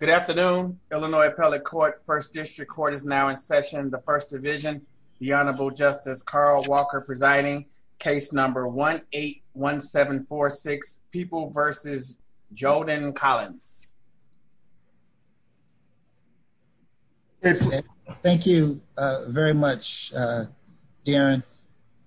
Good afternoon, Illinois Appellate Court. First District Court is now in session. The First Division, the Honorable Justice Carl Walker presiding. Case number 1-8-1746, People v. Joden-Collins. Thank you very much, Darren.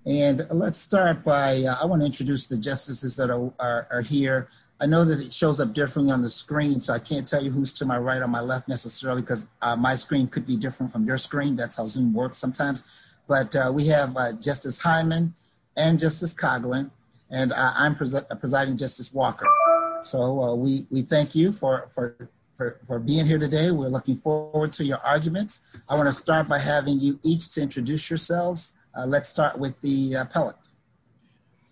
And let's start by, I want to introduce the justices that are here. I know that it shows up differently on the screen, so I can't tell you who's to my right or my left, necessarily, because my screen could be different from your screen. That's how Zoom works sometimes. But we have Justice Hyman and Justice Coughlin, and I'm presiding, Justice Walker. So we thank you for being here today. We're looking forward to your arguments. I want to start by having you each to introduce yourselves. Let's start with the appellate.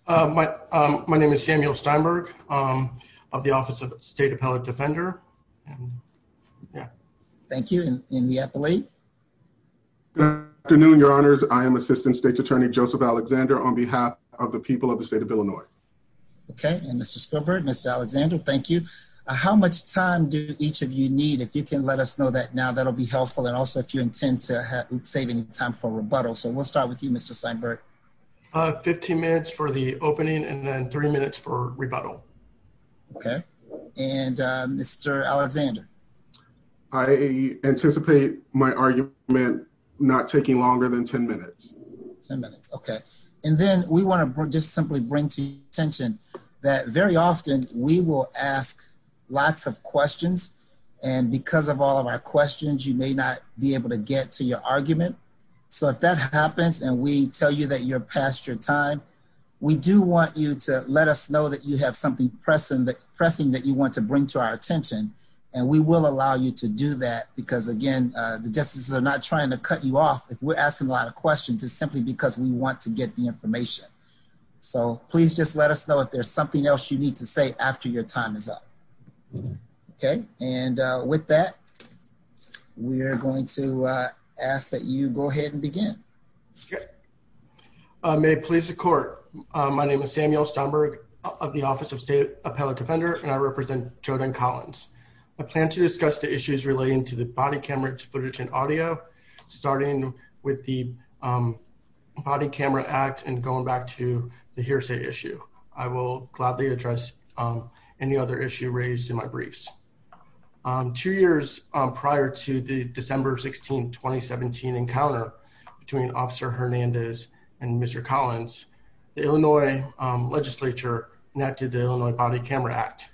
My name is Samuel Steinberg of the Office of State Appellate Defender. Yeah. Thank you. And the appellate? Good afternoon, Your Honors. I am Assistant State's Attorney Joseph Alexander on behalf of the people of the state of Illinois. Okay. And Mr. Spielberg, Mr. Alexander, thank you. How much time do each of you need? If you can let us know that now, that'll be helpful. And also if you intend to save any time for rebuttal. So we'll start with you, Mr. Steinberg. Fifteen minutes for the opening and then three minutes for rebuttal. Okay. And Mr. Alexander? I anticipate my argument not taking longer than ten minutes. Ten minutes. Okay. And then we want to just simply bring to your attention that very often we will ask lots of questions, and because of all of our questions, you may not be able to get to your argument. So if that happens and we tell you that you're past your time, we do want you to let us know that you have something pressing that you want to bring to our attention, and we will allow you to do that because, again, the justices are not trying to cut you off if we're asking a lot of questions. It's simply because we want to get the information. So please just let us know if there's something else you need to say after your time is up. Okay. And with that, we are going to ask that you go ahead and begin. Okay. May it please the court. My name is Samuel Steinberg of the Office of State Appellate Defender, and I represent Jodan Collins. I plan to discuss the issues relating to the body camera footage and audio, starting with the Body Camera Act and going back to the hearsay issue. I will gladly address any other issue raised in my briefs. Two years prior to the December 16, 2017 encounter between Officer Hernandez and Mr. Collins, the Illinois legislature enacted the Illinois Body Camera Act.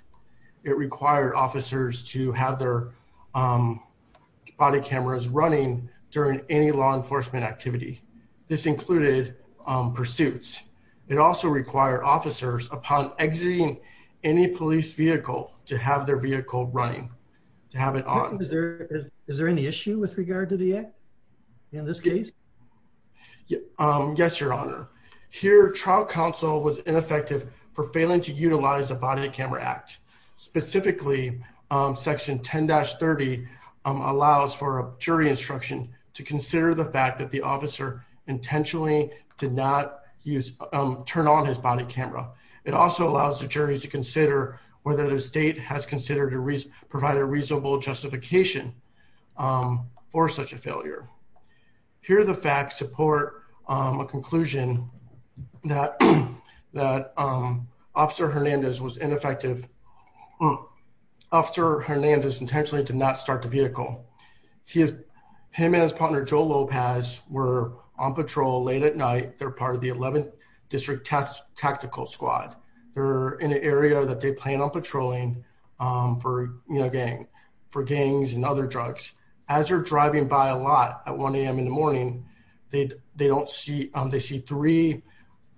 It required officers to have their body cameras running during any law enforcement activity. This included pursuits. It also required officers, upon exiting any police vehicle, to have their vehicle running, to have it on. Is there any issue with regard to the act in this case? Yes, Your Honor. Here, trial counsel was ineffective for failing to utilize the Body Camera Act. Specifically, Section 10-30 allows for a jury instruction to consider the fact that the officer intentionally did not turn on his body camera. It also allows the jury to consider whether the state has considered to provide a reasonable justification for such a failure. Here, the facts support a conclusion that Officer Hernandez was ineffective. Officer Hernandez intentionally did not start the vehicle. Him and his partner, Joe Lopez, were on patrol late at night. They're part of the 11th District Tactical Squad. They're in an area that they plan on patrolling for gangs and other drugs. As they're driving by a lot at 1 a.m. in the morning, they see three,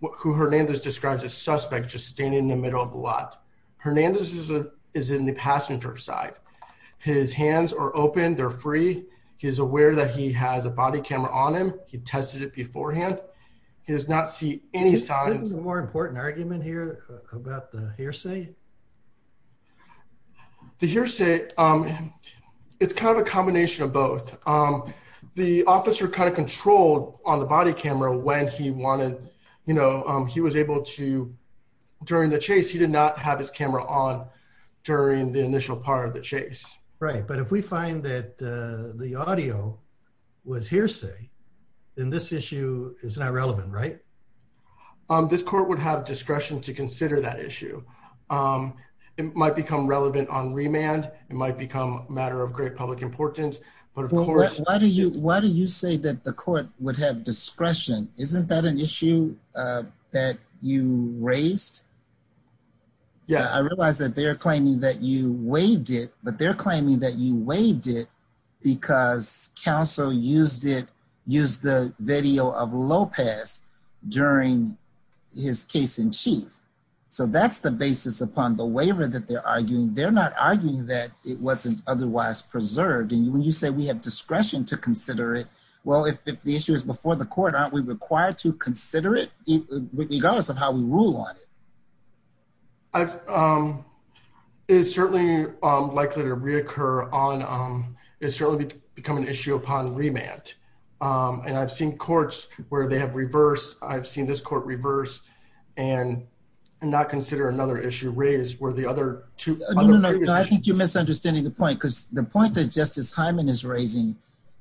who Hernandez describes as suspects, just standing in the middle of the lot. Hernandez is in the passenger side. His hands are open. They're free. He's aware that he has a body camera on him. He tested it beforehand. He does not see any signs. Is there a more important argument here about the hearsay? The hearsay, it's kind of a combination of both. The officer kind of controlled on the body camera when he wanted, you know, he was able to, during the chase, he did not have his camera on during the initial part of the chase. Right, but if we find that the audio was hearsay, then this issue is not relevant, right? This court would have discretion to consider that issue. It might become relevant on remand. It might become a matter of great public importance, but of course... Why do you say that the court would have discretion? Isn't that an issue that you raised? Yeah. I realize that they're claiming that you waived it, but they're not arguing that it wasn't otherwise preserved. And when you say we have discretion to consider it, well, if the issue is before the court, aren't we required to consider it regardless of how we rule on it? It's certainly likely to reoccur on, it's certainly become an issue upon remand. And I've seen courts where they have reversed. I've seen this court reverse and not consider another issue raised where the other two... No, I think you're misunderstanding the point because the point that Justice Hyman is raising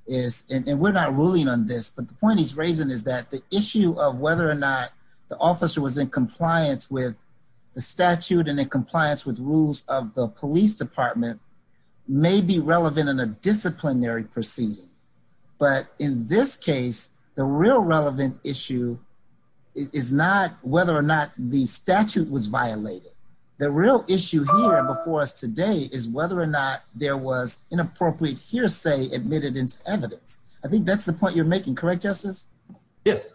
is, and we're not ruling on this, but the point he's raising is that the issue of whether or not the officer was in compliance with the statute and in compliance with rules of the police department may be relevant in a disciplinary proceeding. But in this case, the real relevant issue is not whether or not the statute was violated. The real issue here before us today is whether or not there was inappropriate hearsay admitted into evidence. I think that's the point you're making, correct, Justice? Yes.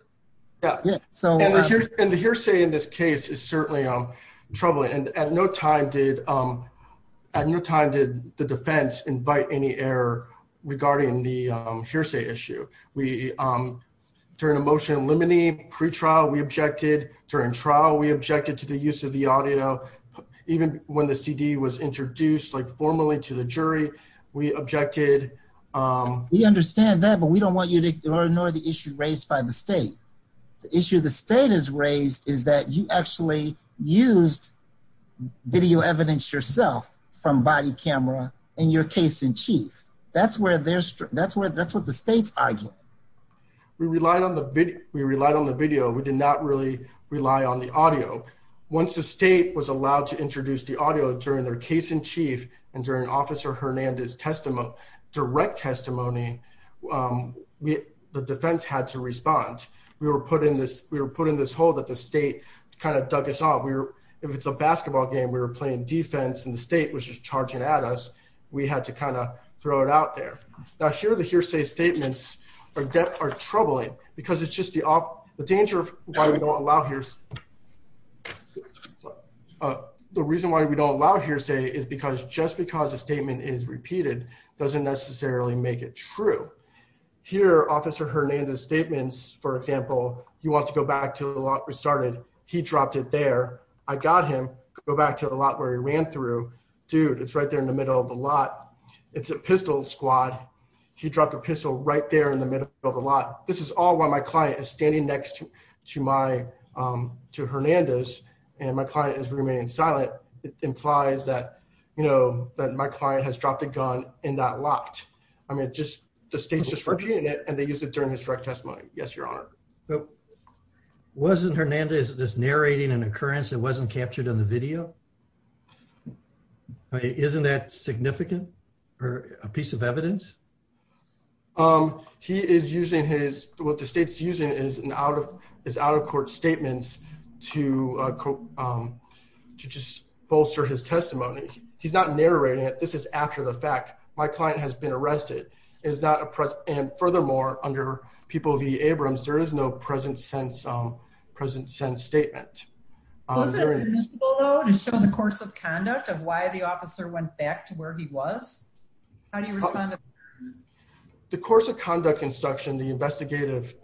And the hearsay in this case is certainly troubling. And at no time did the defense invite any error regarding the hearsay issue. During a motion in limine pre-trial, we objected. During trial, we objected to the use of the audio. Even when the CD was introduced formally to the jury, we objected. We understand that, but we don't want you to ignore the issue raised by the state. The issue the state has raised is that you actually used video evidence yourself from body camera in your case-in-chief. That's what the state's arguing. We relied on the video. We did not really rely on the audio. Once the state was allowed to introduce the audio during their case-in-chief and during Officer Hernandez's direct testimony, the defense had to respond. We were put in this hole that the state kind of dug us out. If it's a basketball game, we were playing defense, and the state was just charging at us. We had to kind of throw it out there. Now, here, the hearsay statements are troubling because it's just the danger of why we don't allow hearsay. The reason why we don't allow hearsay is because just because a statement is repeated doesn't necessarily make it true. Here, Officer Hernandez's statements, for example, you want to go back to the lot restarted. He dropped it there. I got him. Go back to the lot where he ran through. Dude, it's right there in the middle of the lot. It's a pistol squad. He dropped a pistol right there in the middle of the lot. This is all while my client is standing next to Hernandez, and my client has remained silent. It implies that my client has dropped a gun in that lot. I mean, the state's just repeating it, and they used it during his testimony. Yes, Your Honor. Wasn't Hernandez just narrating an occurrence that wasn't captured in the video? Isn't that significant or a piece of evidence? He is using his, what the state's using is out-of-court statements to just bolster his testimony. He's not narrating it. This is after the fact. My client has been arrested. It is not a press, and furthermore, under People v. Abrams, there is no present-sense statement. Was there a mystical note in the course of conduct of why the officer went back to where he was? How do you respond to that? The course of conduct instruction, the investigative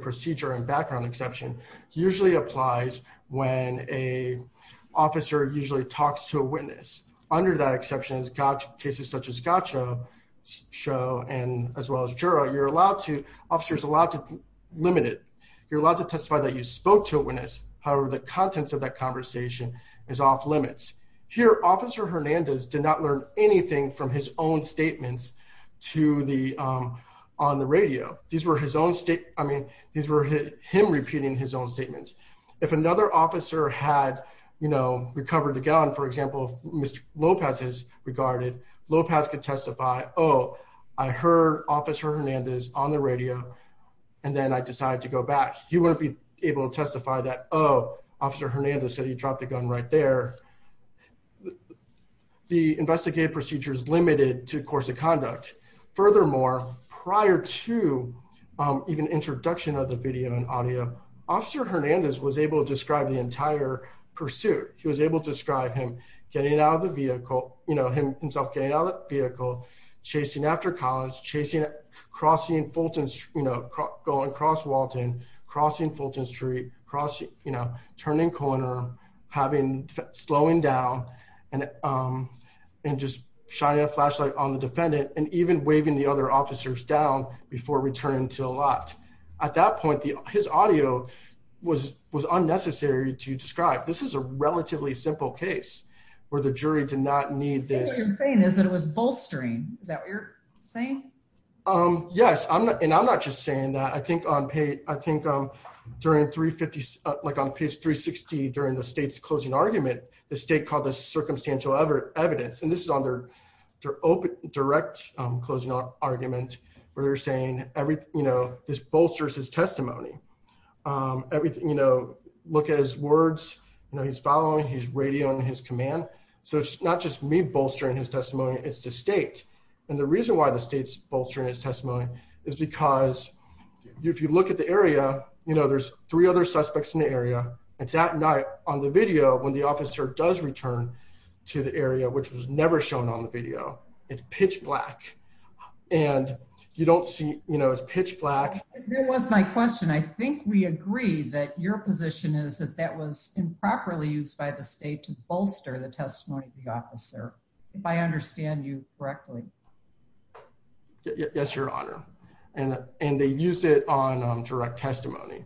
procedure and background exception usually applies when an officer usually talks to a witness. Under that exception, cases such as Gatcho and as well as Jura, you're allowed to, officers are allowed to limit it. You're allowed to testify that you spoke to a witness. However, the contents of that conversation is off-limits. Here, Officer Hernandez did not learn anything from his own statements to the, on the radio. These were his own state, I mean, these were him repeating his own statements. If another officer had, you know, recovered the gun, for example, Mr. Lopez has regarded, Lopez could testify, oh, I heard Officer Hernandez on the radio, and then I decided to go back. He wouldn't be able to testify that, oh, Officer Hernandez said he dropped the gun right there. The investigative procedure is limited to course of conduct. Furthermore, prior to even introduction of the video and audio, Officer Hernandez was able to describe the entire pursuit. He was able to describe him getting out of the vehicle, you know, himself getting out of the vehicle, chasing after college, chasing, crossing Fulton, you know, going across Walton, crossing Fulton Street, crossing, you know, turning corner, having, slowing down, and, and just shining a flashlight on the defendant and even waving the other officers down before returning to the lot. At that point, the, his audio was, was unnecessary to describe. This is a relatively simple case where the jury did not need this. What you're saying is that it was bolstering. Is that what you're saying? Yes, I'm not, and I'm not just saying that. I think on I think during 350, like on page 360, during the state's closing argument, the state called this circumstantial evidence, and this is on their open, direct closing argument, where they're saying everything, you know, this bolsters his testimony. Everything, you know, look at his words, you know, he's following, he's radioing his command. So it's not just me bolstering his testimony, it's the state. And the reason why the state's bolstering his testimony is because if you look at the area, you know, there's three other suspects in the area. It's that night on the video when the officer does return to the area, which was never shown on the video. It's pitch black and you don't see, you know, it's pitch black. There was my question. I think we agree that your position is that that was improperly used by the state to bolster the testimony of if I understand you correctly. Yes, your honor. And they used it on direct testimony.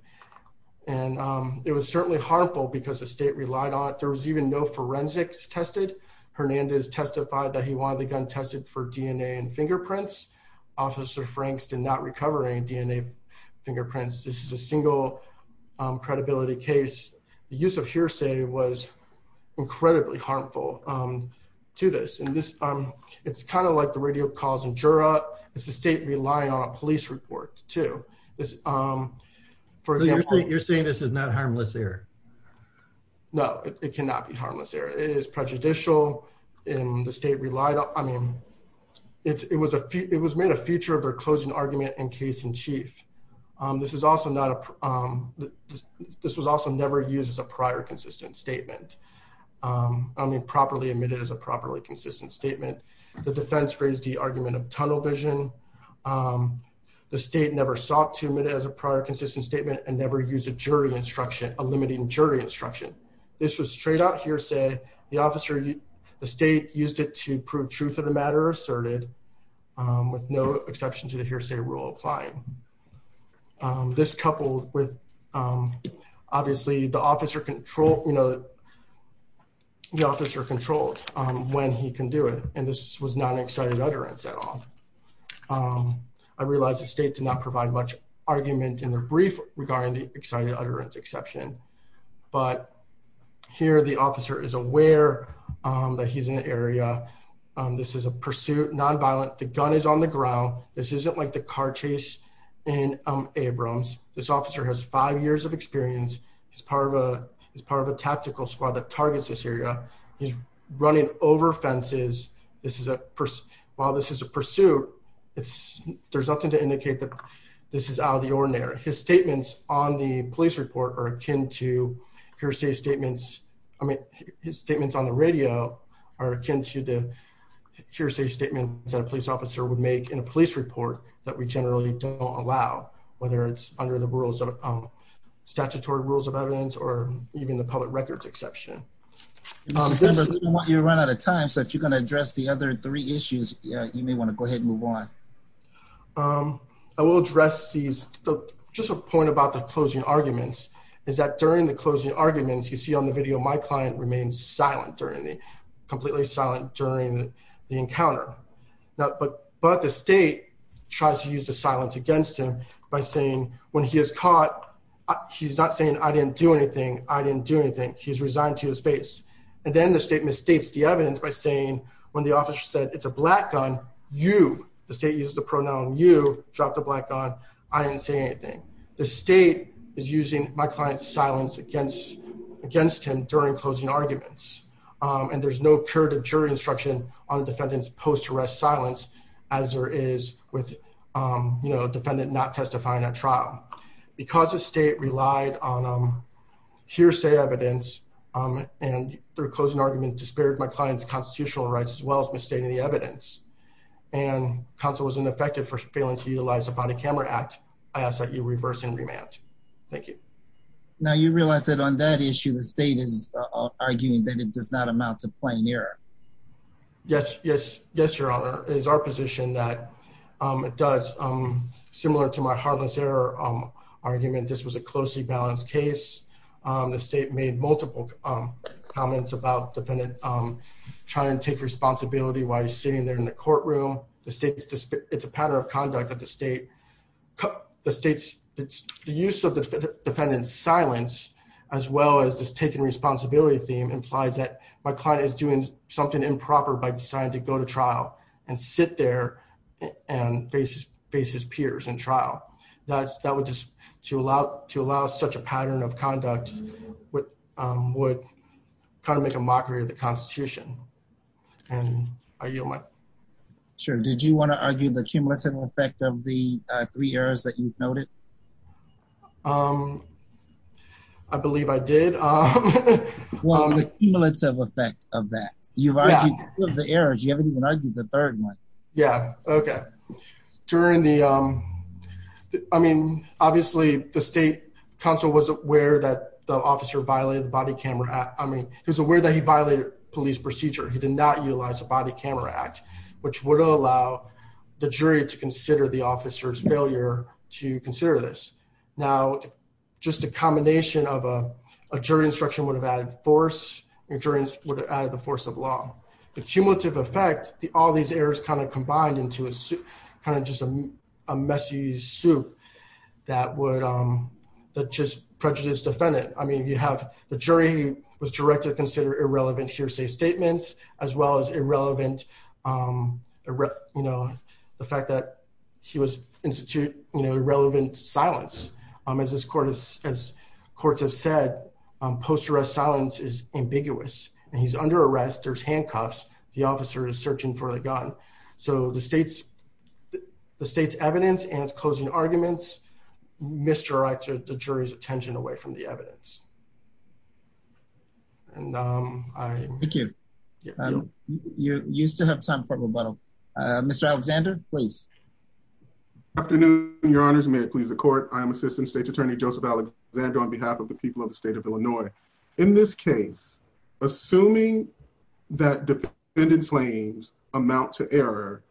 And it was certainly harmful because the state relied on it. There was even no forensics tested. Hernandez testified that he wanted the gun tested for DNA and fingerprints. Officer Franks did not recover any DNA fingerprints. This is a single credibility case. The use of hearsay was incredibly harmful to this. And it's kind of like the radio calls and juror. It's the state relying on a police report too. You're saying this is not harmless error? No, it cannot be harmless error. It is prejudicial and the state relied on, I mean, it was made a feature of their closing argument in case in chief. This was also never used as a prior consistent statement. I mean, properly admitted as a properly consistent statement. The defense raised the argument of tunnel vision. The state never sought to admit as a prior consistent statement and never use a jury instruction, a limiting jury instruction. This was straight out hearsay. The state used it to prove truth of the matter asserted. With no exception to the hearsay rule applying. This coupled with obviously the officer control, the officer controlled when he can do it. And this was not an excited utterance at all. I realized the state did not provide much argument in the brief regarding the excited utterance exception. But here the officer is aware that he's in the area. This is a pursuit, nonviolent. The gun is on the ground. This isn't like the car chase in Abrams. This officer has five years of experience. He's part of a tactical squad that targets this area. He's running over fences. While this is a pursuit, there's nothing to indicate that this is out of the ordinary. His statements on the police report are akin to hearsay statements. I mean, his statements on the police officer would make in a police report that we generally don't allow, whether it's under the rules of statutory rules of evidence or even the public records exception. You run out of time. So if you're going to address the other three issues, you may want to go ahead and move on. I will address these. Just a point about the closing arguments is that during the closing arguments, you see on the video, my client remains silent completely silent during the encounter. But the state tries to use the silence against him by saying, when he is caught, he's not saying, I didn't do anything. I didn't do anything. He's resigned to his face. And then the state misstates the evidence by saying, when the officer said, it's a black gun, you, the state used the pronoun you, dropped the black gun. I didn't say anything. The state is using my client's silence against him during closing arguments. And there's no curative jury instruction on the defendant's post arrest silence as there is with, you know, a defendant not testifying at trial. Because the state relied on hearsay evidence and their closing argument dispaired my client's constitutional rights as well as misstating the evidence. And counsel was ineffective for failing to utilize a body camera act. I ask that you reverse and remand. Thank you. Now you realize that on that issue, the state is arguing that it does not amount to plain error. Yes. Yes. Yes. Your honor is our position that it does similar to my harmless error argument. This was a closely balanced case. The state made multiple comments about defendant trying to take responsibility while he's sitting there in the courtroom. The state, it's a pattern of conduct that the state, the state's, the use of the defendant's silence, as well as this taking responsibility theme implies that my client is doing something improper by deciding to go to trial and sit there and face his peers in trial. That's, that would to allow, to allow such a pattern of conduct would kind of make a mockery of the constitution. Sure. Did you want to argue the cumulative effect of the three errors that you've noted? I believe I did. Well, the cumulative effect of that, you've argued the errors. You haven't the state council was aware that the officer violated the body camera. I mean, he was aware that he violated police procedure. He did not utilize a body camera act, which would allow the jury to consider the officer's failure to consider this. Now, just a combination of a, a jury instruction would have added force. Your jury would add the force of law, the cumulative effect, the, all these errors kind of combined into a suit, kind of just a, a messy suit that would that just prejudice defendant. I mean, you have the jury was directed to consider irrelevant hearsay statements as well as irrelevant. You know, the fact that he was institute, you know, irrelevant silence as this court is, as courts have said, post arrest silence is ambiguous and he's under arrest. There's handcuffs. The officer is searching for the gun. So the state's, the state's evidence and it's closing arguments, misdirected the jury's attention away from the evidence. And I thank you. You're used to have time for rebuttal. Mr. Alexander, please. Afternoon, your honors. May it please the court. I am assistant state attorney, Joseph Alexander on behalf of the people of the state of Illinois. In this case, assuming that defendant's claims amount to error,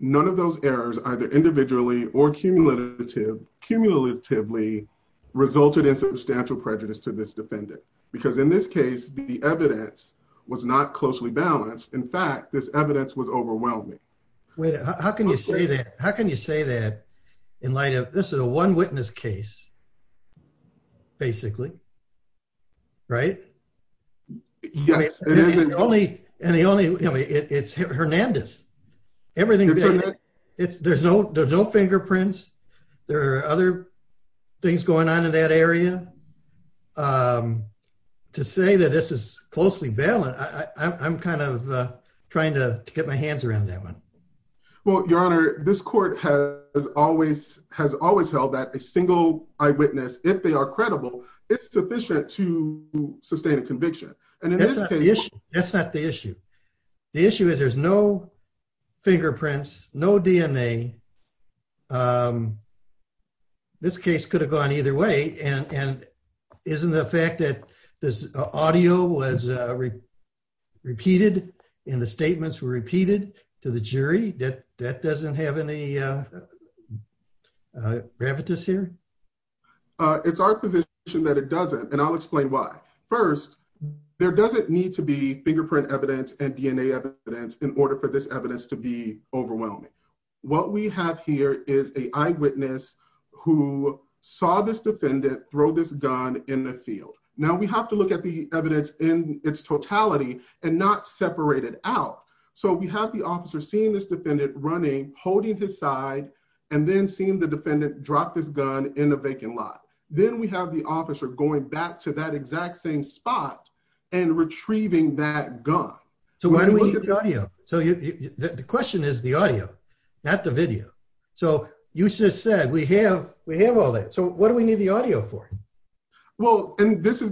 none of those errors either individually or cumulatively resulted in substantial prejudice to this defendant. Because in this case, the evidence was not closely balanced. In fact, this evidence was overwhelming. How can you say that? How can you say that in light of this is a one witness case, basically, right? Yes. And the only, and the only, it's Hernandez, everything. It's there's no, there's no fingerprints. There are other things going on in that area. To say that this is closely balanced. I'm kind of trying to get my hands around that one. Well, your honor, this court has always, has always held that a single eyewitness, if they are credible, it's sufficient to sustain a conviction. And that's not the issue. The issue is there's no fingerprints, no DNA. This case could have gone either way. And isn't the fact that this audio was repeated and the statements were repeated to the jury that that doesn't have any gravitas here? It's our position that it doesn't. And I'll explain why. First, there doesn't need to be fingerprint evidence and DNA evidence in order for this evidence to be overwhelming. What we have here is a eyewitness who saw this defendant throw this gun in the field. Now we have to look at the evidence in its totality and not separate it out. So we have the officer seeing this defendant running, holding his side, and then seeing the defendant drop this gun in a vacant lot. Then we have the officer going back to that exact same spot and retrieving that gun. So why do we need the audio? So the question is the audio, not the video. So you just said we have all that. So what do we need the audio for? Well, and this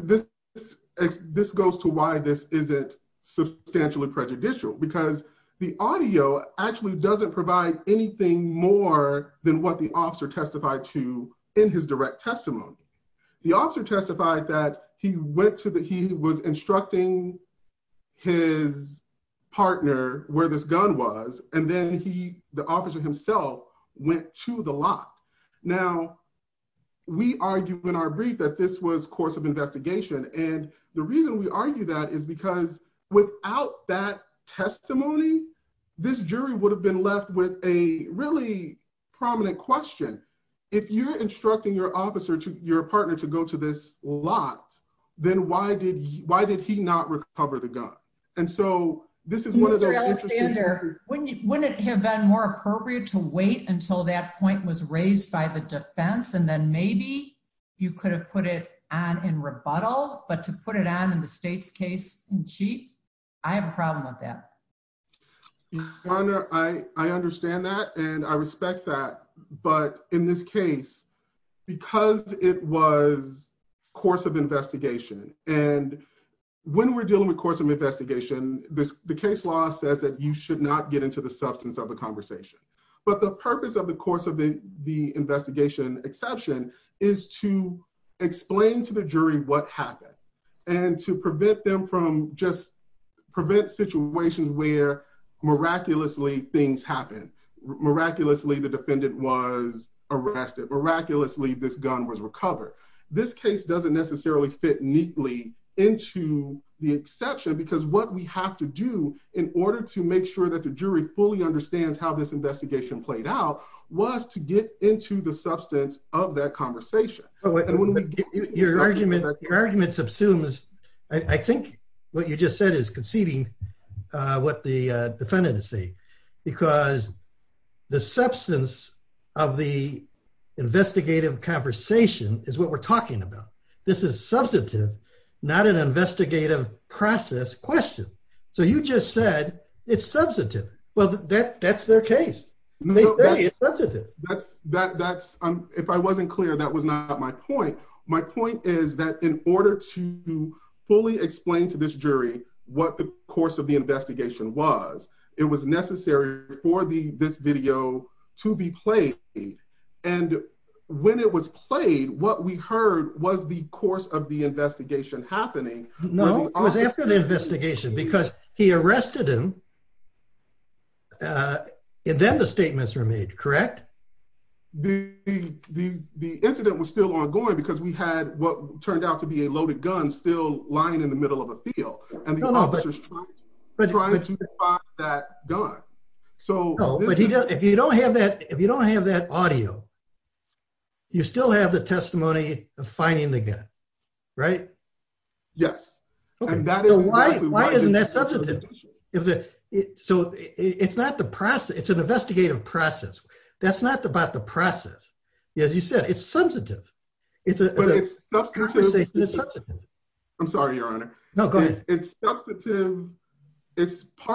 goes to why this isn't substantially prejudicial. Because the audio actually doesn't provide anything more than what the officer testified to in his direct testimony. The officer testified that he was instructing his partner where this gun was. And then the officer himself went to the lot. Now, we argue in our brief that this was course of investigation. And the reason we argue that is because without that testimony, this jury would have been left with a really prominent question. If you're instructing your partner to go to this lot, then why did he not recover the gun? And so this is one of those interesting- Mr. Alexander, wouldn't it have been more appropriate to wait until that point was raised by the defense? And then maybe you could have put it on in rebuttal, but to put it on in the state's case in chief? I have a problem with that. Your Honor, I understand that. And I respect that. But in this case, because it was course of investigation, and when we're dealing with course of investigation, the case law says that you should not get into the substance of the conversation. But the purpose of the course of the investigation exception is to explain to the jury what happened. And to prevent them from just prevent situations where miraculously things was arrested, miraculously this gun was recovered. This case doesn't necessarily fit neatly into the exception, because what we have to do in order to make sure that the jury fully understands how this investigation played out was to get into the substance of that conversation. Your argument subsumes, I think what you just said is conceding what the defendant is saying. Because the substance of the investigative conversation is what we're talking about. This is substantive, not an investigative process question. So you just said it's substantive. Well, that's their case. They say it's substantive. If I wasn't clear, that was not my point. My point is that in order to fully explain to this jury what the course of the investigation was, it was necessary for this video to be played. And when it was played, what we heard was the course of the investigation happening. No, it was after the investigation because he arrested him. And then the statements were made, correct? The incident was still ongoing because we had what turned out to be a loaded gun still lying in the middle of a field. And the officers trying to find that gun. No, but if you don't have that audio, you still have the testimony of finding the gun, right? Yes. Why isn't that substantive? So it's an investigative process. That's not about the it's part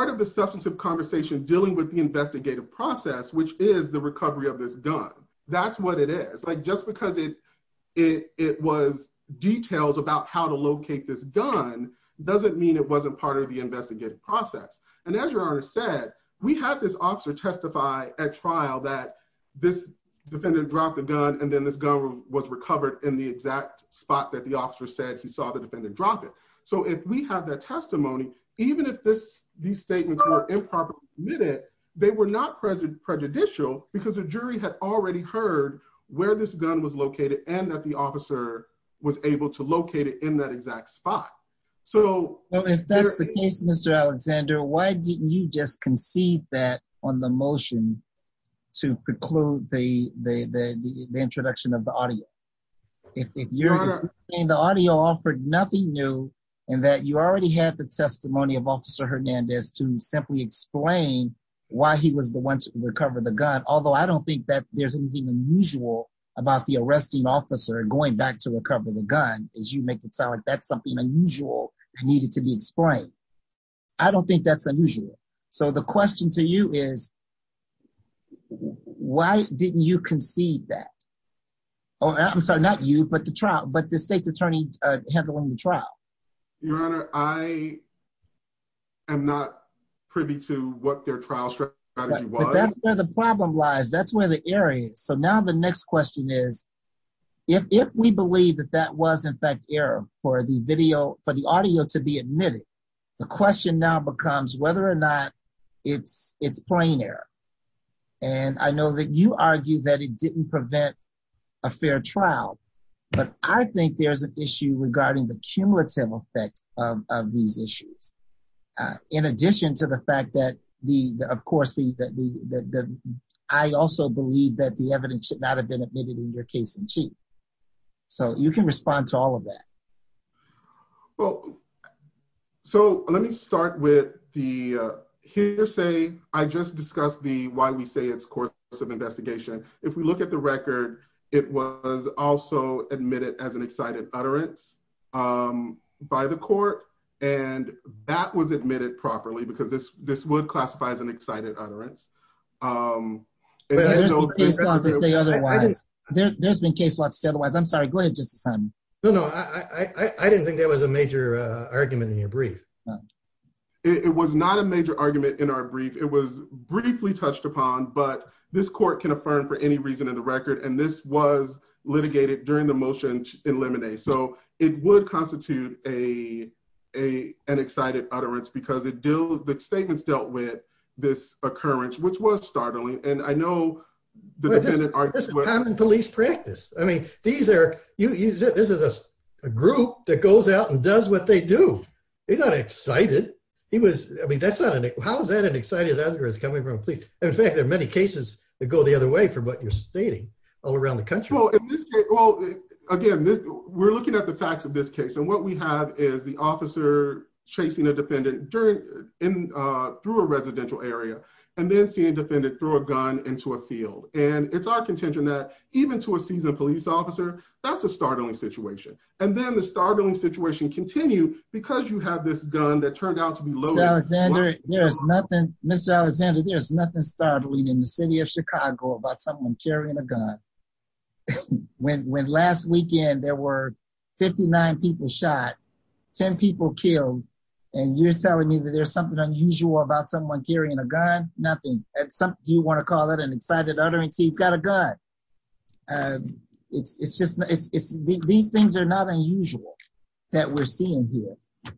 of the substance of conversation dealing with the investigative process, which is the recovery of this gun. That's what it is. Just because it was details about how to locate this gun doesn't mean it wasn't part of the investigative process. And as your honor said, we had this officer testify at trial that this defendant dropped the gun and then this gun was recovered in the exact spot that the officer said he saw the defendant drop it. So if we have that testimony, even if these statements were improperly admitted, they were not prejudicial because the jury had already heard where this gun was located and that the officer was able to locate it in that exact spot. So if that's the case, Mr. Alexander, why didn't you just concede that on the motion to preclude the introduction of the audio? If you're saying the audio offered nothing new and that you already had the testimony of officer Hernandez to simply explain why he was the one to recover the gun. Although I don't think that there's anything unusual about the arresting officer going back to recover the gun as you make it sound like that's something unusual and needed to be explained. I don't think that's why didn't you concede that? I'm sorry, not you, but the trial, but the state's attorney handling the trial. Your honor, I am not privy to what their trial strategy was. That's where the problem lies. That's where the area is. So now the next question is, if we believe that that was in fact error for the video, for the audio to be admitted, the question now becomes whether or not it's plain error. And I know that you argue that it didn't prevent a fair trial, but I think there's an issue regarding the cumulative effect of these issues. In addition to the fact that the, of course, I also believe that the evidence should not have been admitted in your case in chief. So you can respond to all of that. So let me start with the say, I just discussed the, why we say it's course of investigation. If we look at the record, it was also admitted as an excited utterance by the court. And that was admitted properly because this, this would classify as an excited utterance. There's been case slots to say otherwise. I'm sorry. Go ahead. No, no, I didn't think that was a major argument in your brief. No, it was not a major argument in our brief. It was briefly touched upon, but this court can affirm for any reason in the record. And this was litigated during the motion in lemonade. So it would constitute a, a, an excited utterance because it deals with the statements dealt with this occurrence, which was startling. And I know the police practice. I mean, these are, this is a group that goes out and does what they do. He's not excited. He was, I mean, that's not an, how is that an excited utterance coming from a police? In fact, there are many cases that go the other way for what you're stating all around the country. Again, we're looking at the facts of this case. And what we have is the officer chasing a defendant through a residential area, and then seeing a defendant throw a gun into a field. And it's our contention that even to a seasoned police officer, that's a startling situation. And then the startling situation continue because you have this gun that turned out to be loaded. Mr. Alexander, there's nothing, Mr. Alexander, there's nothing startling in the city of Chicago about someone carrying a gun. When, when last weekend there were 59 people shot, 10 people killed. And you're telling me that there's something unusual about someone carrying a gun? Nothing. Do you want to call it an excited utterance? He's got a gun. It's, it's just, it's, it's, these things are not unusual that we're seeing here.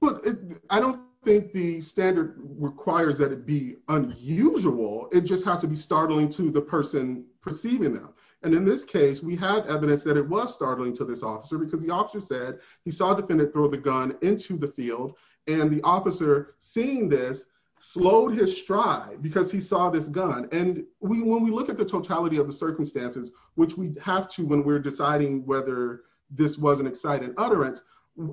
Well, I don't think the standard requires that it be unusual. It just has to be startling to the person perceiving them. And in this case, we have evidence that it was startling to this officer because the officer said he saw a defendant throw the gun into the field. And the officer seeing this slowed his stride because he saw this gun. And we, when we look at the totality of the circumstances, which we have to, when we're deciding whether this was an excited utterance,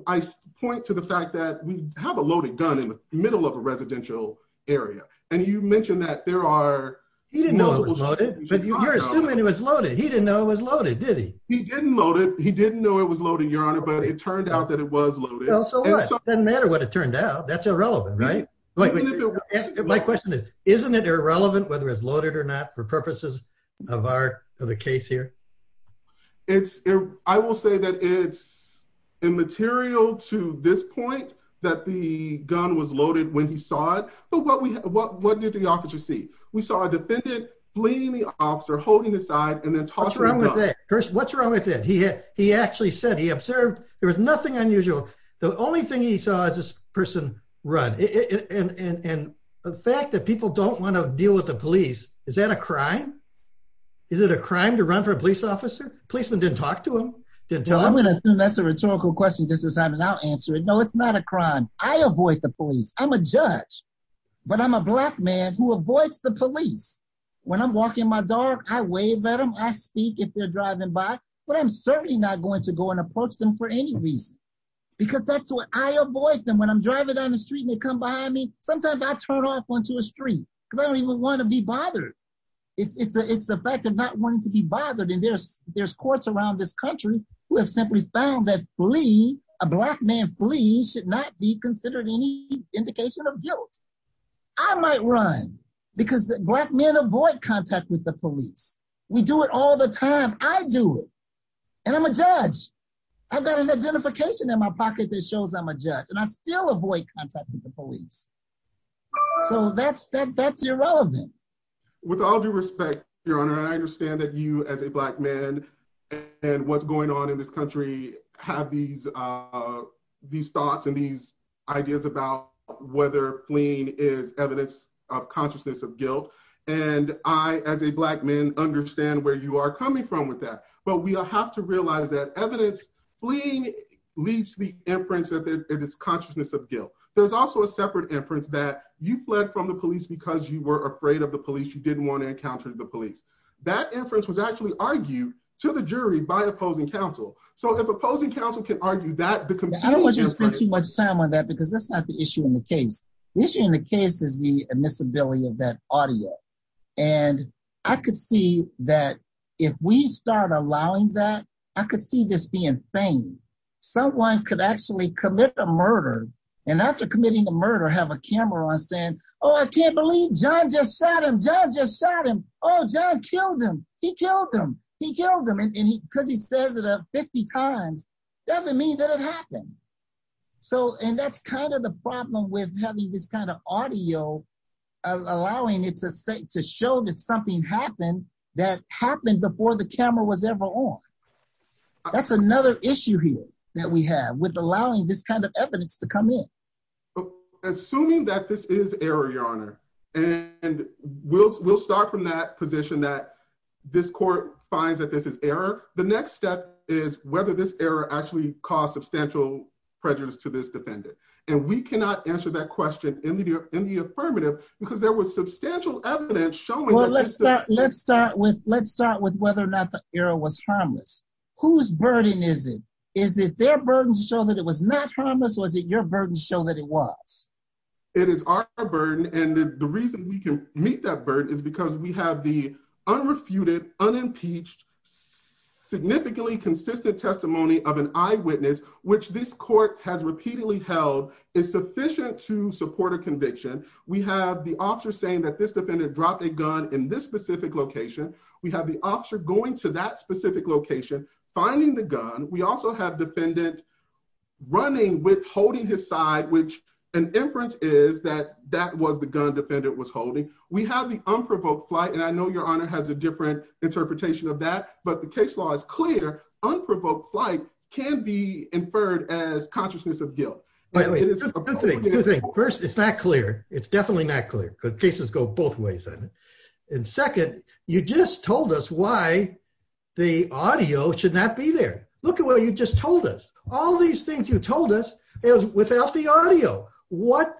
I point to the fact that we have a loaded gun in the middle of a residential area. And you mentioned that there are... He didn't know it was loaded. But you're assuming it was loaded. He didn't know it was loaded, did he? He didn't know it. He didn't know it was loaded, Your Honor, but it turned out that it was loaded. Well, so what? It doesn't matter what it turned out. That's irrelevant, right? My question is, isn't it irrelevant whether it's loaded or not for purposes of our, of the case here? It's, I will say that it's immaterial to this point that the gun was loaded when he saw it. But what did the officer see? We saw a defendant bleeding the officer, holding his side, and then tossing the gun. What's wrong with that? He actually said he observed. There was nothing unusual. The only thing he saw is this person run. And the fact that people don't want to deal with the police, is that a crime? Is it a crime to run for a police officer? Policeman didn't talk to him? Didn't tell him? I'm going to assume that's a rhetorical question, Justice Simon. I'll answer it. No, it's not a crime. I avoid the police. I'm a judge. But I'm a Black man who avoids the police. When I'm walking my dog, I wave at them. I speak if they're driving by. But I'm certainly not going to go and approach them for any reason. Because that's what I avoid them. When I'm driving down the street, they come behind me. Sometimes I turn off onto a street because I don't even want to be bothered. It's the fact of not wanting to be bothered. And there's courts around this country who have simply found that a Black man fleeing should not be considered any indication of guilt. I might run because Black men avoid contact with police. We do it all the time. I do it. And I'm a judge. I've got an identification in my pocket that shows I'm a judge. And I still avoid contact with the police. So that's irrelevant. With all due respect, Your Honor, I understand that you as a Black man and what's going on in this country have these thoughts and these ideas about whether fleeing is evidence of consciousness of guilt. And I, as a Black man, understand where you are coming from with that. But we have to realize that evidence, fleeing leads to the inference that it is consciousness of guilt. There's also a separate inference that you fled from the police because you were afraid of the police. You didn't want to encounter the police. That inference was actually argued to the jury by opposing counsel. So if opposing counsel can argue that, the competition— I don't want you to spend too much time on that because that's not the issue in the case. The issue in the case is the admissibility of that audio. And I could see that if we start allowing that, I could see this being feigned. Someone could actually commit a murder and after committing the murder have a camera on saying, oh, I can't believe John just shot him. John just shot him. Oh, John killed him. He killed him. He killed him. And because he says it 50 times, doesn't mean that it happened. So, and that's kind of the problem with having this kind of audio allowing it to show that something happened that happened before the camera was ever on. That's another issue here that we have with allowing this kind of evidence to come in. Assuming that this is error, Your Honor, and we'll start from that position that this court finds that this is error. The next step is whether this error actually caused substantial prejudice to this defendant. And we cannot answer that question in the affirmative because there was substantial evidence showing— Well, let's start with whether or not the error was harmless. Whose burden is it? Is it their burden to show that it was not harmless, or is it your burden to show that it was? It is our burden. And the reason we can that burden is because we have the unrefuted, unimpeached, significantly consistent testimony of an eyewitness, which this court has repeatedly held is sufficient to support a conviction. We have the officer saying that this defendant dropped a gun in this specific location. We have the officer going to that specific location, finding the gun. We also have defendant running with holding his side, which an inference is that that was the gun defendant was holding. We have the unprovoked flight, and I know Your Honor has a different interpretation of that, but the case law is clear. Unprovoked flight can be inferred as consciousness of guilt. First, it's not clear. It's definitely not clear because cases go both ways. And second, you just told us why the audio should not be there. Look at what you just told us. All these things you told us, it was without the audio. What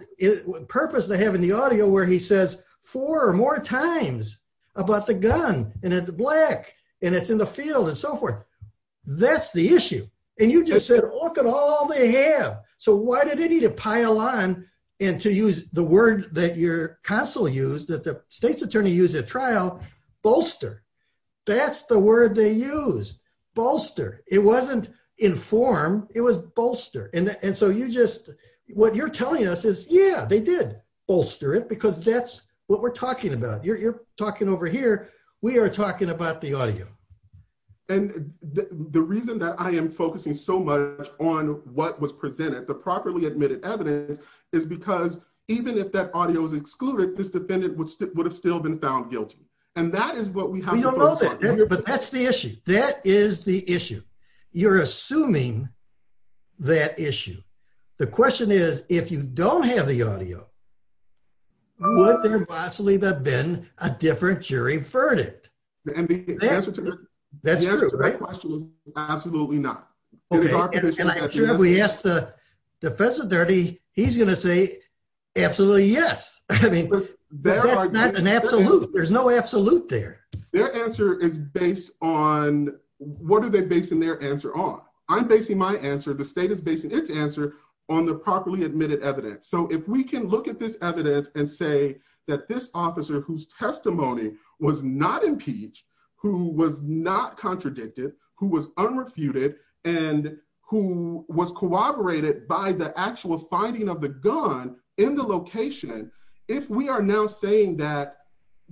purpose they have in the audio where he says four or more times about the gun, and it's black, and it's in the field, and so forth. That's the issue. And you just said, look at all they have. So why did they need to pile on and to use the word that your counsel used, that the state's attorney used at trial, bolster. That's the word they used, bolster. It wasn't inform. It was bolster. And so you just, what you're telling us is, yeah, they did bolster it because that's what we're talking about. You're talking over here. We are talking about the audio. And the reason that I am focusing so much on what was presented, the properly admitted evidence, is because even if that audio was excluded, this defendant would have still been found guilty. And that is what we have to focus on. We don't know that, but that's the issue. That is the issue. You're assuming that issue. The question is, if you don't have the audio, would there possibly have been a different jury verdict? That's true. The answer to that question is absolutely not. And I'm sure if we ask the defense attorney, he's going to say absolutely yes. I mean, that's not an absolute. There's no absolute there. Their answer is based on, what are they basing their answer on? I'm basing my answer, the state is basing its answer on the properly admitted evidence. So if we can look at this evidence and say that this officer whose testimony was not impeached, who was not contradicted, who was unrefuted, and who was corroborated by the actual finding of the gun in the location, if we are now saying that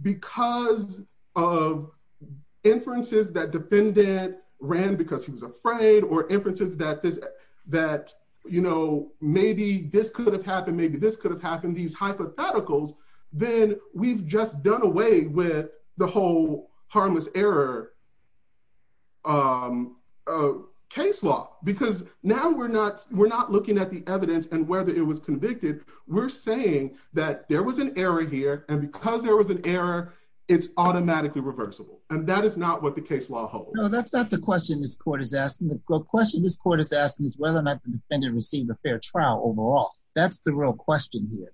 because of inferences that defendant ran because he was afraid, or inferences that maybe this could have happened, maybe this could have happened, these hypotheticals, then we've just done away with the whole harmless error case law. Because now we're not looking at the evidence and whether it was convicted. We're saying that there was an error here. And because there was an error, it's automatically reversible. And that is not what the case law holds. No, that's not the question this court is asking. The question this court is asking is whether or not the defendant received a fair trial overall. That's the real question here.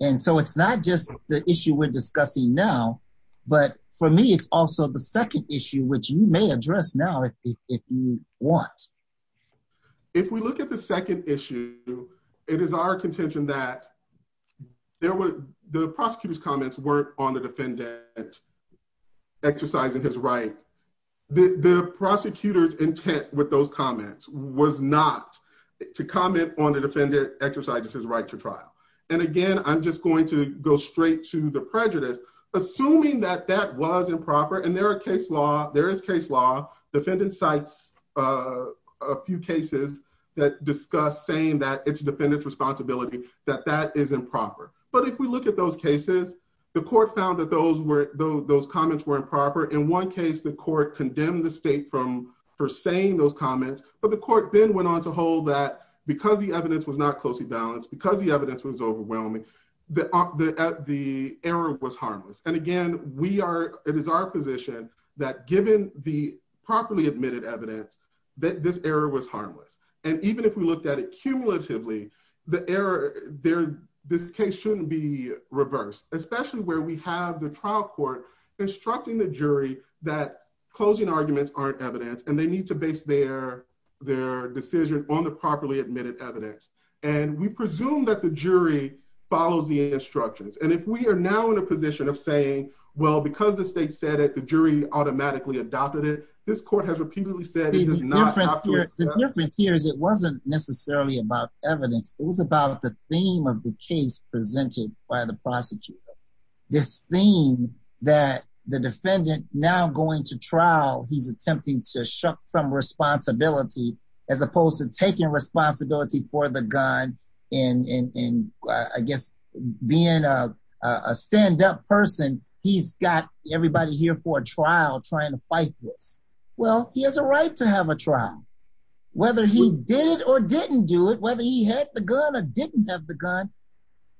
And so it's not just the issue we're discussing now. But for me, it's also the second issue, which you may address now if you want. If we look at the second issue, it is our contention that the prosecutor's comments weren't on the defendant exercising his right. The prosecutor's intent with those comments was not to comment on the defendant exercising his right to trial. And again, I'm just going to go straight to the prejudice. Assuming that that was improper, and there is case law, defendant cites a few cases that discuss saying that it's defendant's responsibility, that that is improper. But if we look at those cases, the court found that those comments were improper. In one case, the court condemned the state for saying those comments. But the court then went on to hold that because the evidence was not closely that given the properly admitted evidence, that this error was harmless. And even if we looked at it cumulatively, the error there, this case shouldn't be reversed, especially where we have the trial court instructing the jury that closing arguments aren't evidence and they need to base their decision on the properly admitted evidence. And we presume that the jury follows the instructions. And if we are now in a position of saying, well, because the state said the jury automatically adopted it, this court has repeatedly said it is not. The difference here is it wasn't necessarily about evidence. It was about the theme of the case presented by the prosecutor. This theme that the defendant now going to trial, he's attempting to shuck some responsibility, as opposed to taking responsibility for the gun. And I guess, being a stand-up person, he's got everybody here for a trial trying to fight this. Well, he has a right to have a trial. Whether he did it or didn't do it, whether he had the gun or didn't have the gun,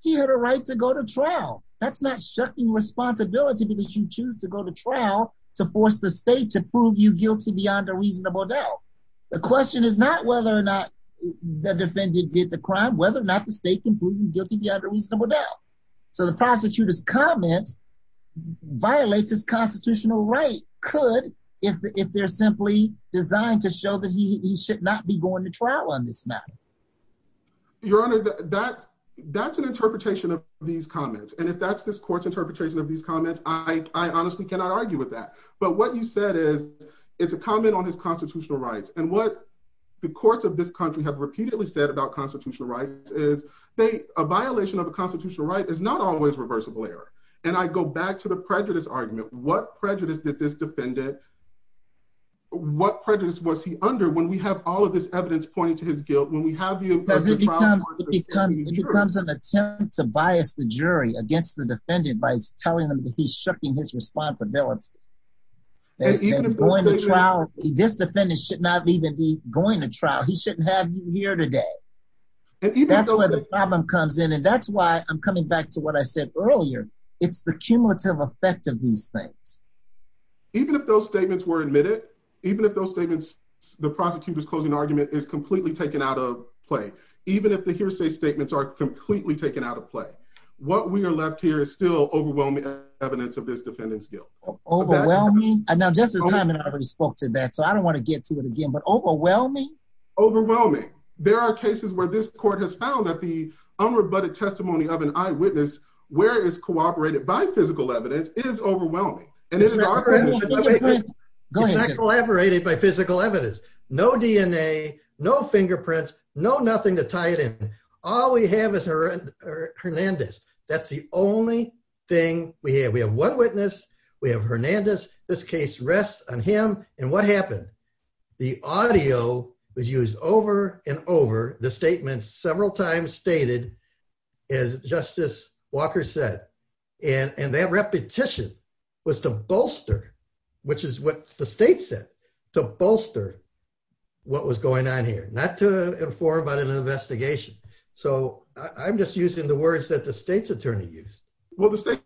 he had a right to go to trial. That's not shucking responsibility because you choose to go to trial to force the state to prove you guilty beyond a reasonable doubt. The question is not whether or not the defendant did the crime, whether or not the state can prove you guilty beyond a reasonable doubt. So the prosecutor's comments violate his constitutional right, could, if they're simply designed to show that he should not be going to trial on this matter. Your Honor, that's an interpretation of these comments. And if that's this court's interpretation of these comments, I honestly cannot argue with that. But what you said is, it's a comment on his constitutional rights. And what the courts of this country have repeatedly said about constitutional rights is they, a violation of a constitutional right is not always reversible error. And I go back to the prejudice argument. What prejudice did this defendant, what prejudice was he under when we have all of this evidence pointing to his guilt, when we have you. It becomes an attempt to bias the jury against the defendant by telling them that he's shucking his responsibility. This defendant should not even be going to trial. He shouldn't have you here today. That's where the problem comes in. And that's why I'm coming back to what I said earlier. It's the cumulative effect of these things. Even if those statements were admitted, even if those statements, the prosecutor's closing argument is completely taken out of play, even if the hearsay statements are completely taken out of play, what we are left here is still overwhelming evidence of this defendant's guilt. Overwhelming? Now Justice Overwhelming. There are cases where this court has found that the unrebutted testimony of an eyewitness where it is cooperated by physical evidence is overwhelming. And it is not collaborated by physical evidence, no DNA, no fingerprints, no nothing to tie it in. All we have is her and her Hernandez. That's the only thing we have. We have one witness. We have Hernandez. This case rests on him. And what happened? The audio was used over and over the statement several times stated, as Justice Walker said, and that repetition was to bolster, which is what the state said, to bolster what was going on here, not to inform about an investigation. So I'm just using the words that the state's attorney used. Well, the state's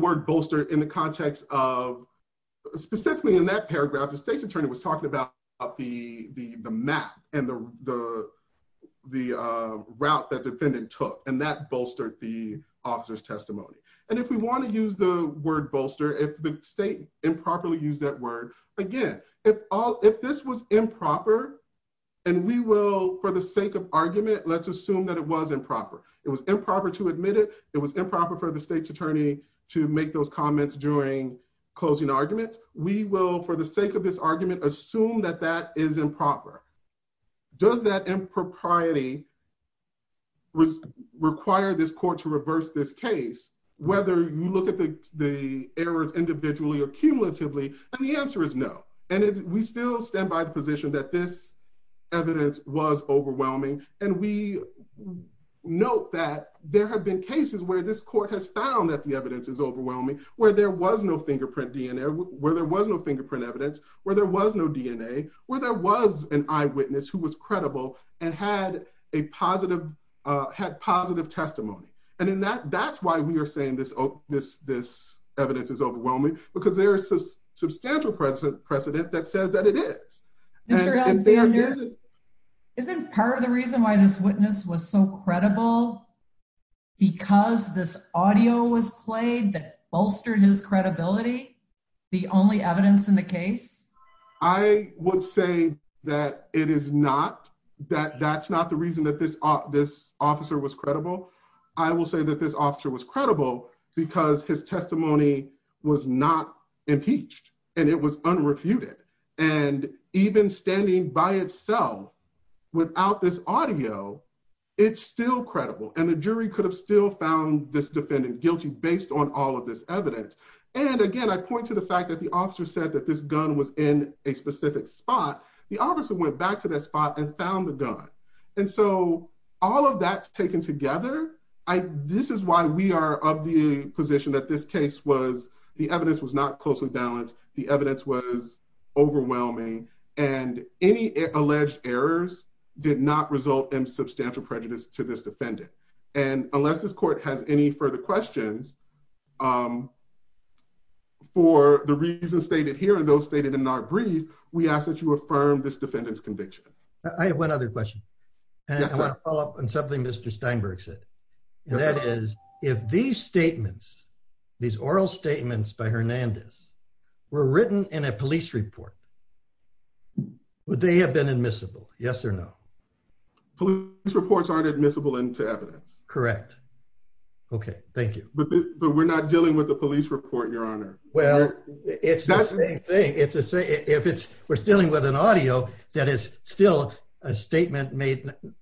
word bolster in the context of, specifically in that paragraph, the state's attorney was talking about the map and the route that defendant took, and that bolstered the officer's testimony. And if we want to use the word bolster, if the state improperly used that word, again, if this was improper, and we will, for the sake of argument, let's assume that it was improper. It was improper to admit it. It was improper for the state's attorney to make those comments during closing arguments. We will, for the sake of this argument, assume that that is improper. Does that impropriety require this court to reverse this case, whether you look at the errors individually or cumulatively? And the answer is no. And we still stand by the position that this evidence was overwhelming. And we note that there have been cases where this court has found that the evidence is overwhelming, where there was no fingerprint DNA, where there was no fingerprint evidence, where there was no DNA, where there was an eyewitness who was credible and had positive testimony. And that's why we are saying this evidence is unconfirmed. Isn't part of the reason why this witness was so credible, because this audio was played that bolstered his credibility, the only evidence in the case? I would say that it is not, that that's not the reason that this officer was credible. I will say that this officer was credible, because his testimony was not impeached, and it was unrefuted. And even standing by itself without this audio, it's still credible. And the jury could have still found this defendant guilty based on all of this evidence. And again, I point to the fact that the officer said that this gun was in a specific spot. The officer went back to that spot and found the gun. And so all of that's taken together. This is why we are of the position that this case was, the evidence was not closely balanced. The evidence was overwhelming, and any alleged errors did not result in substantial prejudice to this defendant. And unless this court has any further questions for the reasons stated here, and those stated in our brief, we ask that you affirm this defendant's conviction. I have one other question. And I want to follow up on something Mr. Steinberg said. And that is, if these statements, these oral statements by Hernandez were written in a police report, would they have been admissible? Yes or no? Police reports aren't admissible into evidence. Correct. Okay, thank you. But we're not dealing with the police report, Your Honor. Well, it's the same thing. It's the same, if it's, we're dealing with an audio that is still a statement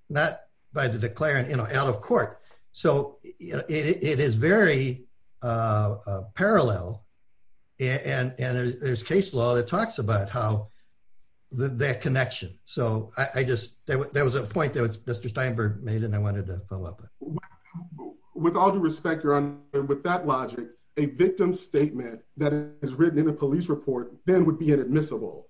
not by the declarant, you know, out of court. So it is very parallel. And there's case law that talks about how that connection. So I just, there was a point that Mr. Steinberg made, and I wanted to follow up. With all due respect, Your Honor, with that logic, a victim statement that is written in a police report then would be inadmissible.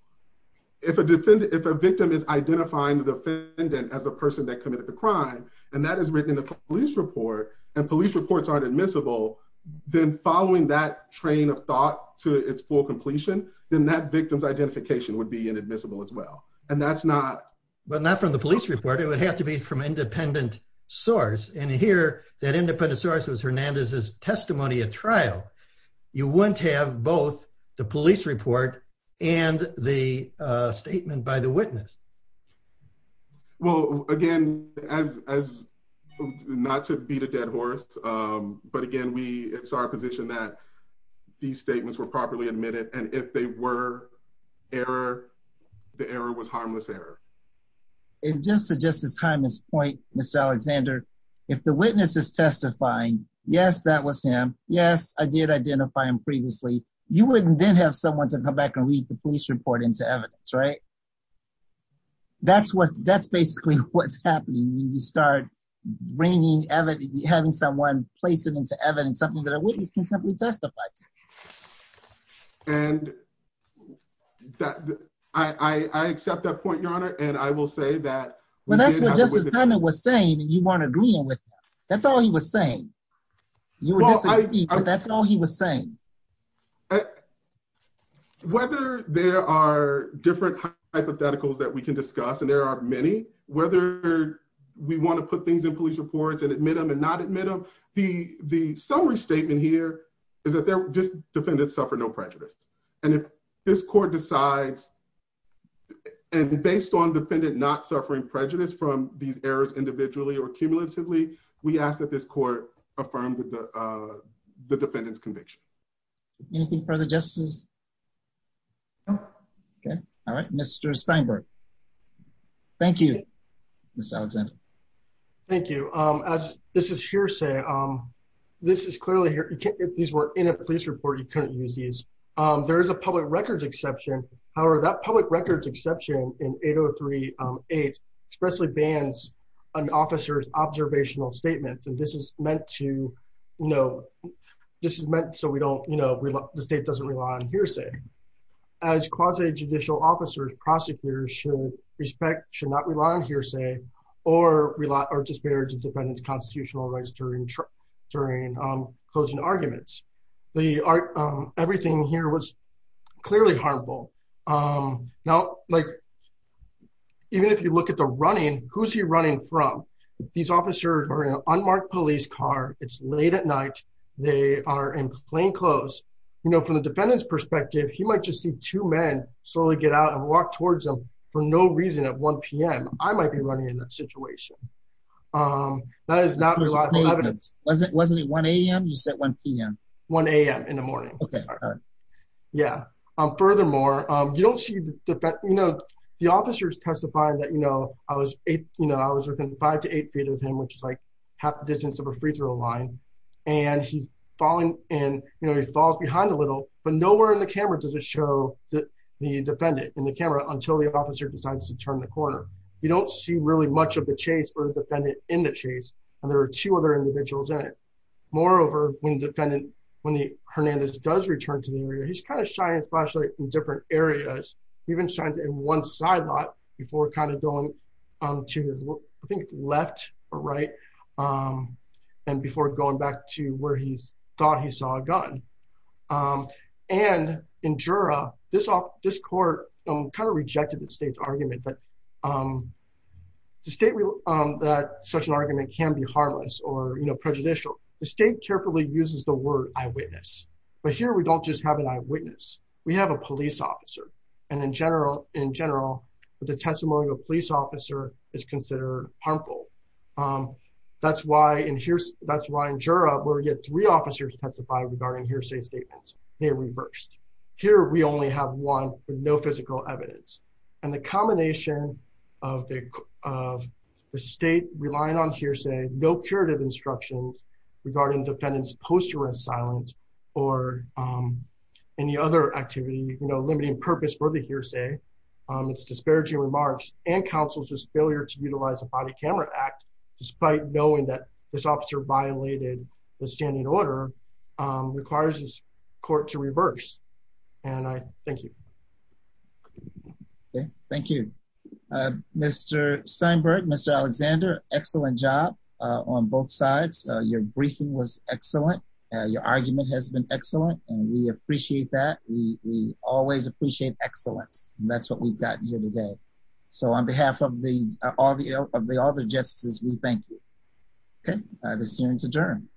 If a victim is identifying the defendant as a person that committed a crime, and that is written in a police report, and police reports aren't admissible, then following that train of thought to its full completion, then that victim's identification would be inadmissible as well. And that's not... But not from the police report, it would have to be from independent source. And here, that independent source was Hernandez's testimony at trial. You wouldn't have both the police report and the statement by the witness. Well, again, as not to beat a dead horse, but again, we, it's our position that these statements were properly admitted. And if they were error, the error was harmless error. And just to Justice Hyman's point, Mr. Alexander, if the witness is testifying, yes, that was him. Yes, I did identify him previously. You wouldn't then have someone to come back and read the police report into evidence, right? That's basically what's happening when you start bringing evidence, having someone place it into evidence, something that a witness can simply testify to. And I accept that point, Your Honor, and I will say that... Well, that's what Justice Hyman was saying, and you weren't agreeing with that. That's all he was saying. You were disagreeing, but that's all he was saying. Whether there are different hypotheticals that we can discuss, and there are many, whether we want to put things in police reports and admit them and not admit them, the summary statement here is that defendants suffer no prejudice. And if this court decides, and based on defendant not suffering prejudice from these errors individually or cumulatively, we ask that this court affirm the defendant's conviction. Anything further, Justices? No. Okay. All right. Mr. Steinberg. Thank you, Mr. Alexander. Thank you. As this is hearsay, this is clearly... If these were in a police report, you couldn't use these. There is a public records exception. However, that public records exception in 8038 expressly bans an officer's observational statements. And this is meant to... This is meant so the state doesn't rely on hearsay. As quasi-judicial officers, prosecutors should respect, should not rely on hearsay or disparage a defendant's constitutional rights during closing arguments. Everything here was clearly harmful. Now, even if you look at the running, who's he running from? These officers are in an unmarked police car. It's late at night. They are in plainclothes. From the defendant's perspective, he might just see two men slowly get out and walk towards them for no reason at 1 PM. I might be running in that situation. That is not reliable evidence. Wasn't it 1 AM? You said 1 PM. 1 AM in the morning. Okay. All right. Yeah. Furthermore, you don't see... The officer's testifying that I was within five to eight feet of him, which is like half the distance of a free-throw line. And he's falling and he falls behind a little, but nowhere in the camera does it show the defendant in the camera until the officer decides to turn the corner. You don't see really much of the chase or the defendant in the chase. And there are two other individuals in it. Moreover, when the defendant, when Hernandez does return to the area, he's kind of shining his flashlight in different areas. He even shines it in one side lot before kind of going to his, I think, left or right. And before going back to where he thought he saw a gun. And in Jura, this court kind of rejected the state's argument, but to state that such an argument can be harmless or prejudicial, the state carefully uses the word eyewitness. But here, we don't just have an eyewitness. We have a police officer. And in general, the testimony of a police officer is considered harmful. That's why in Jura, where we get three officers testify regarding hearsay statements, they reversed. Here, we only have one with no physical evidence. And the combination of the state relying on hearsay, no curative instructions regarding defendant's post-juris silence or any other activity, limiting purpose for the hearsay, it's disparaging remarks and counsel's just failure to utilize a standing order requires this court to reverse. And I thank you. Okay, thank you. Mr. Steinberg, Mr. Alexander, excellent job on both sides. Your briefing was excellent. Your argument has been excellent. And we appreciate that. We always appreciate excellence. And that's what we've gotten here today. So on behalf of the other justices, thank you. Okay, the hearing is adjourned.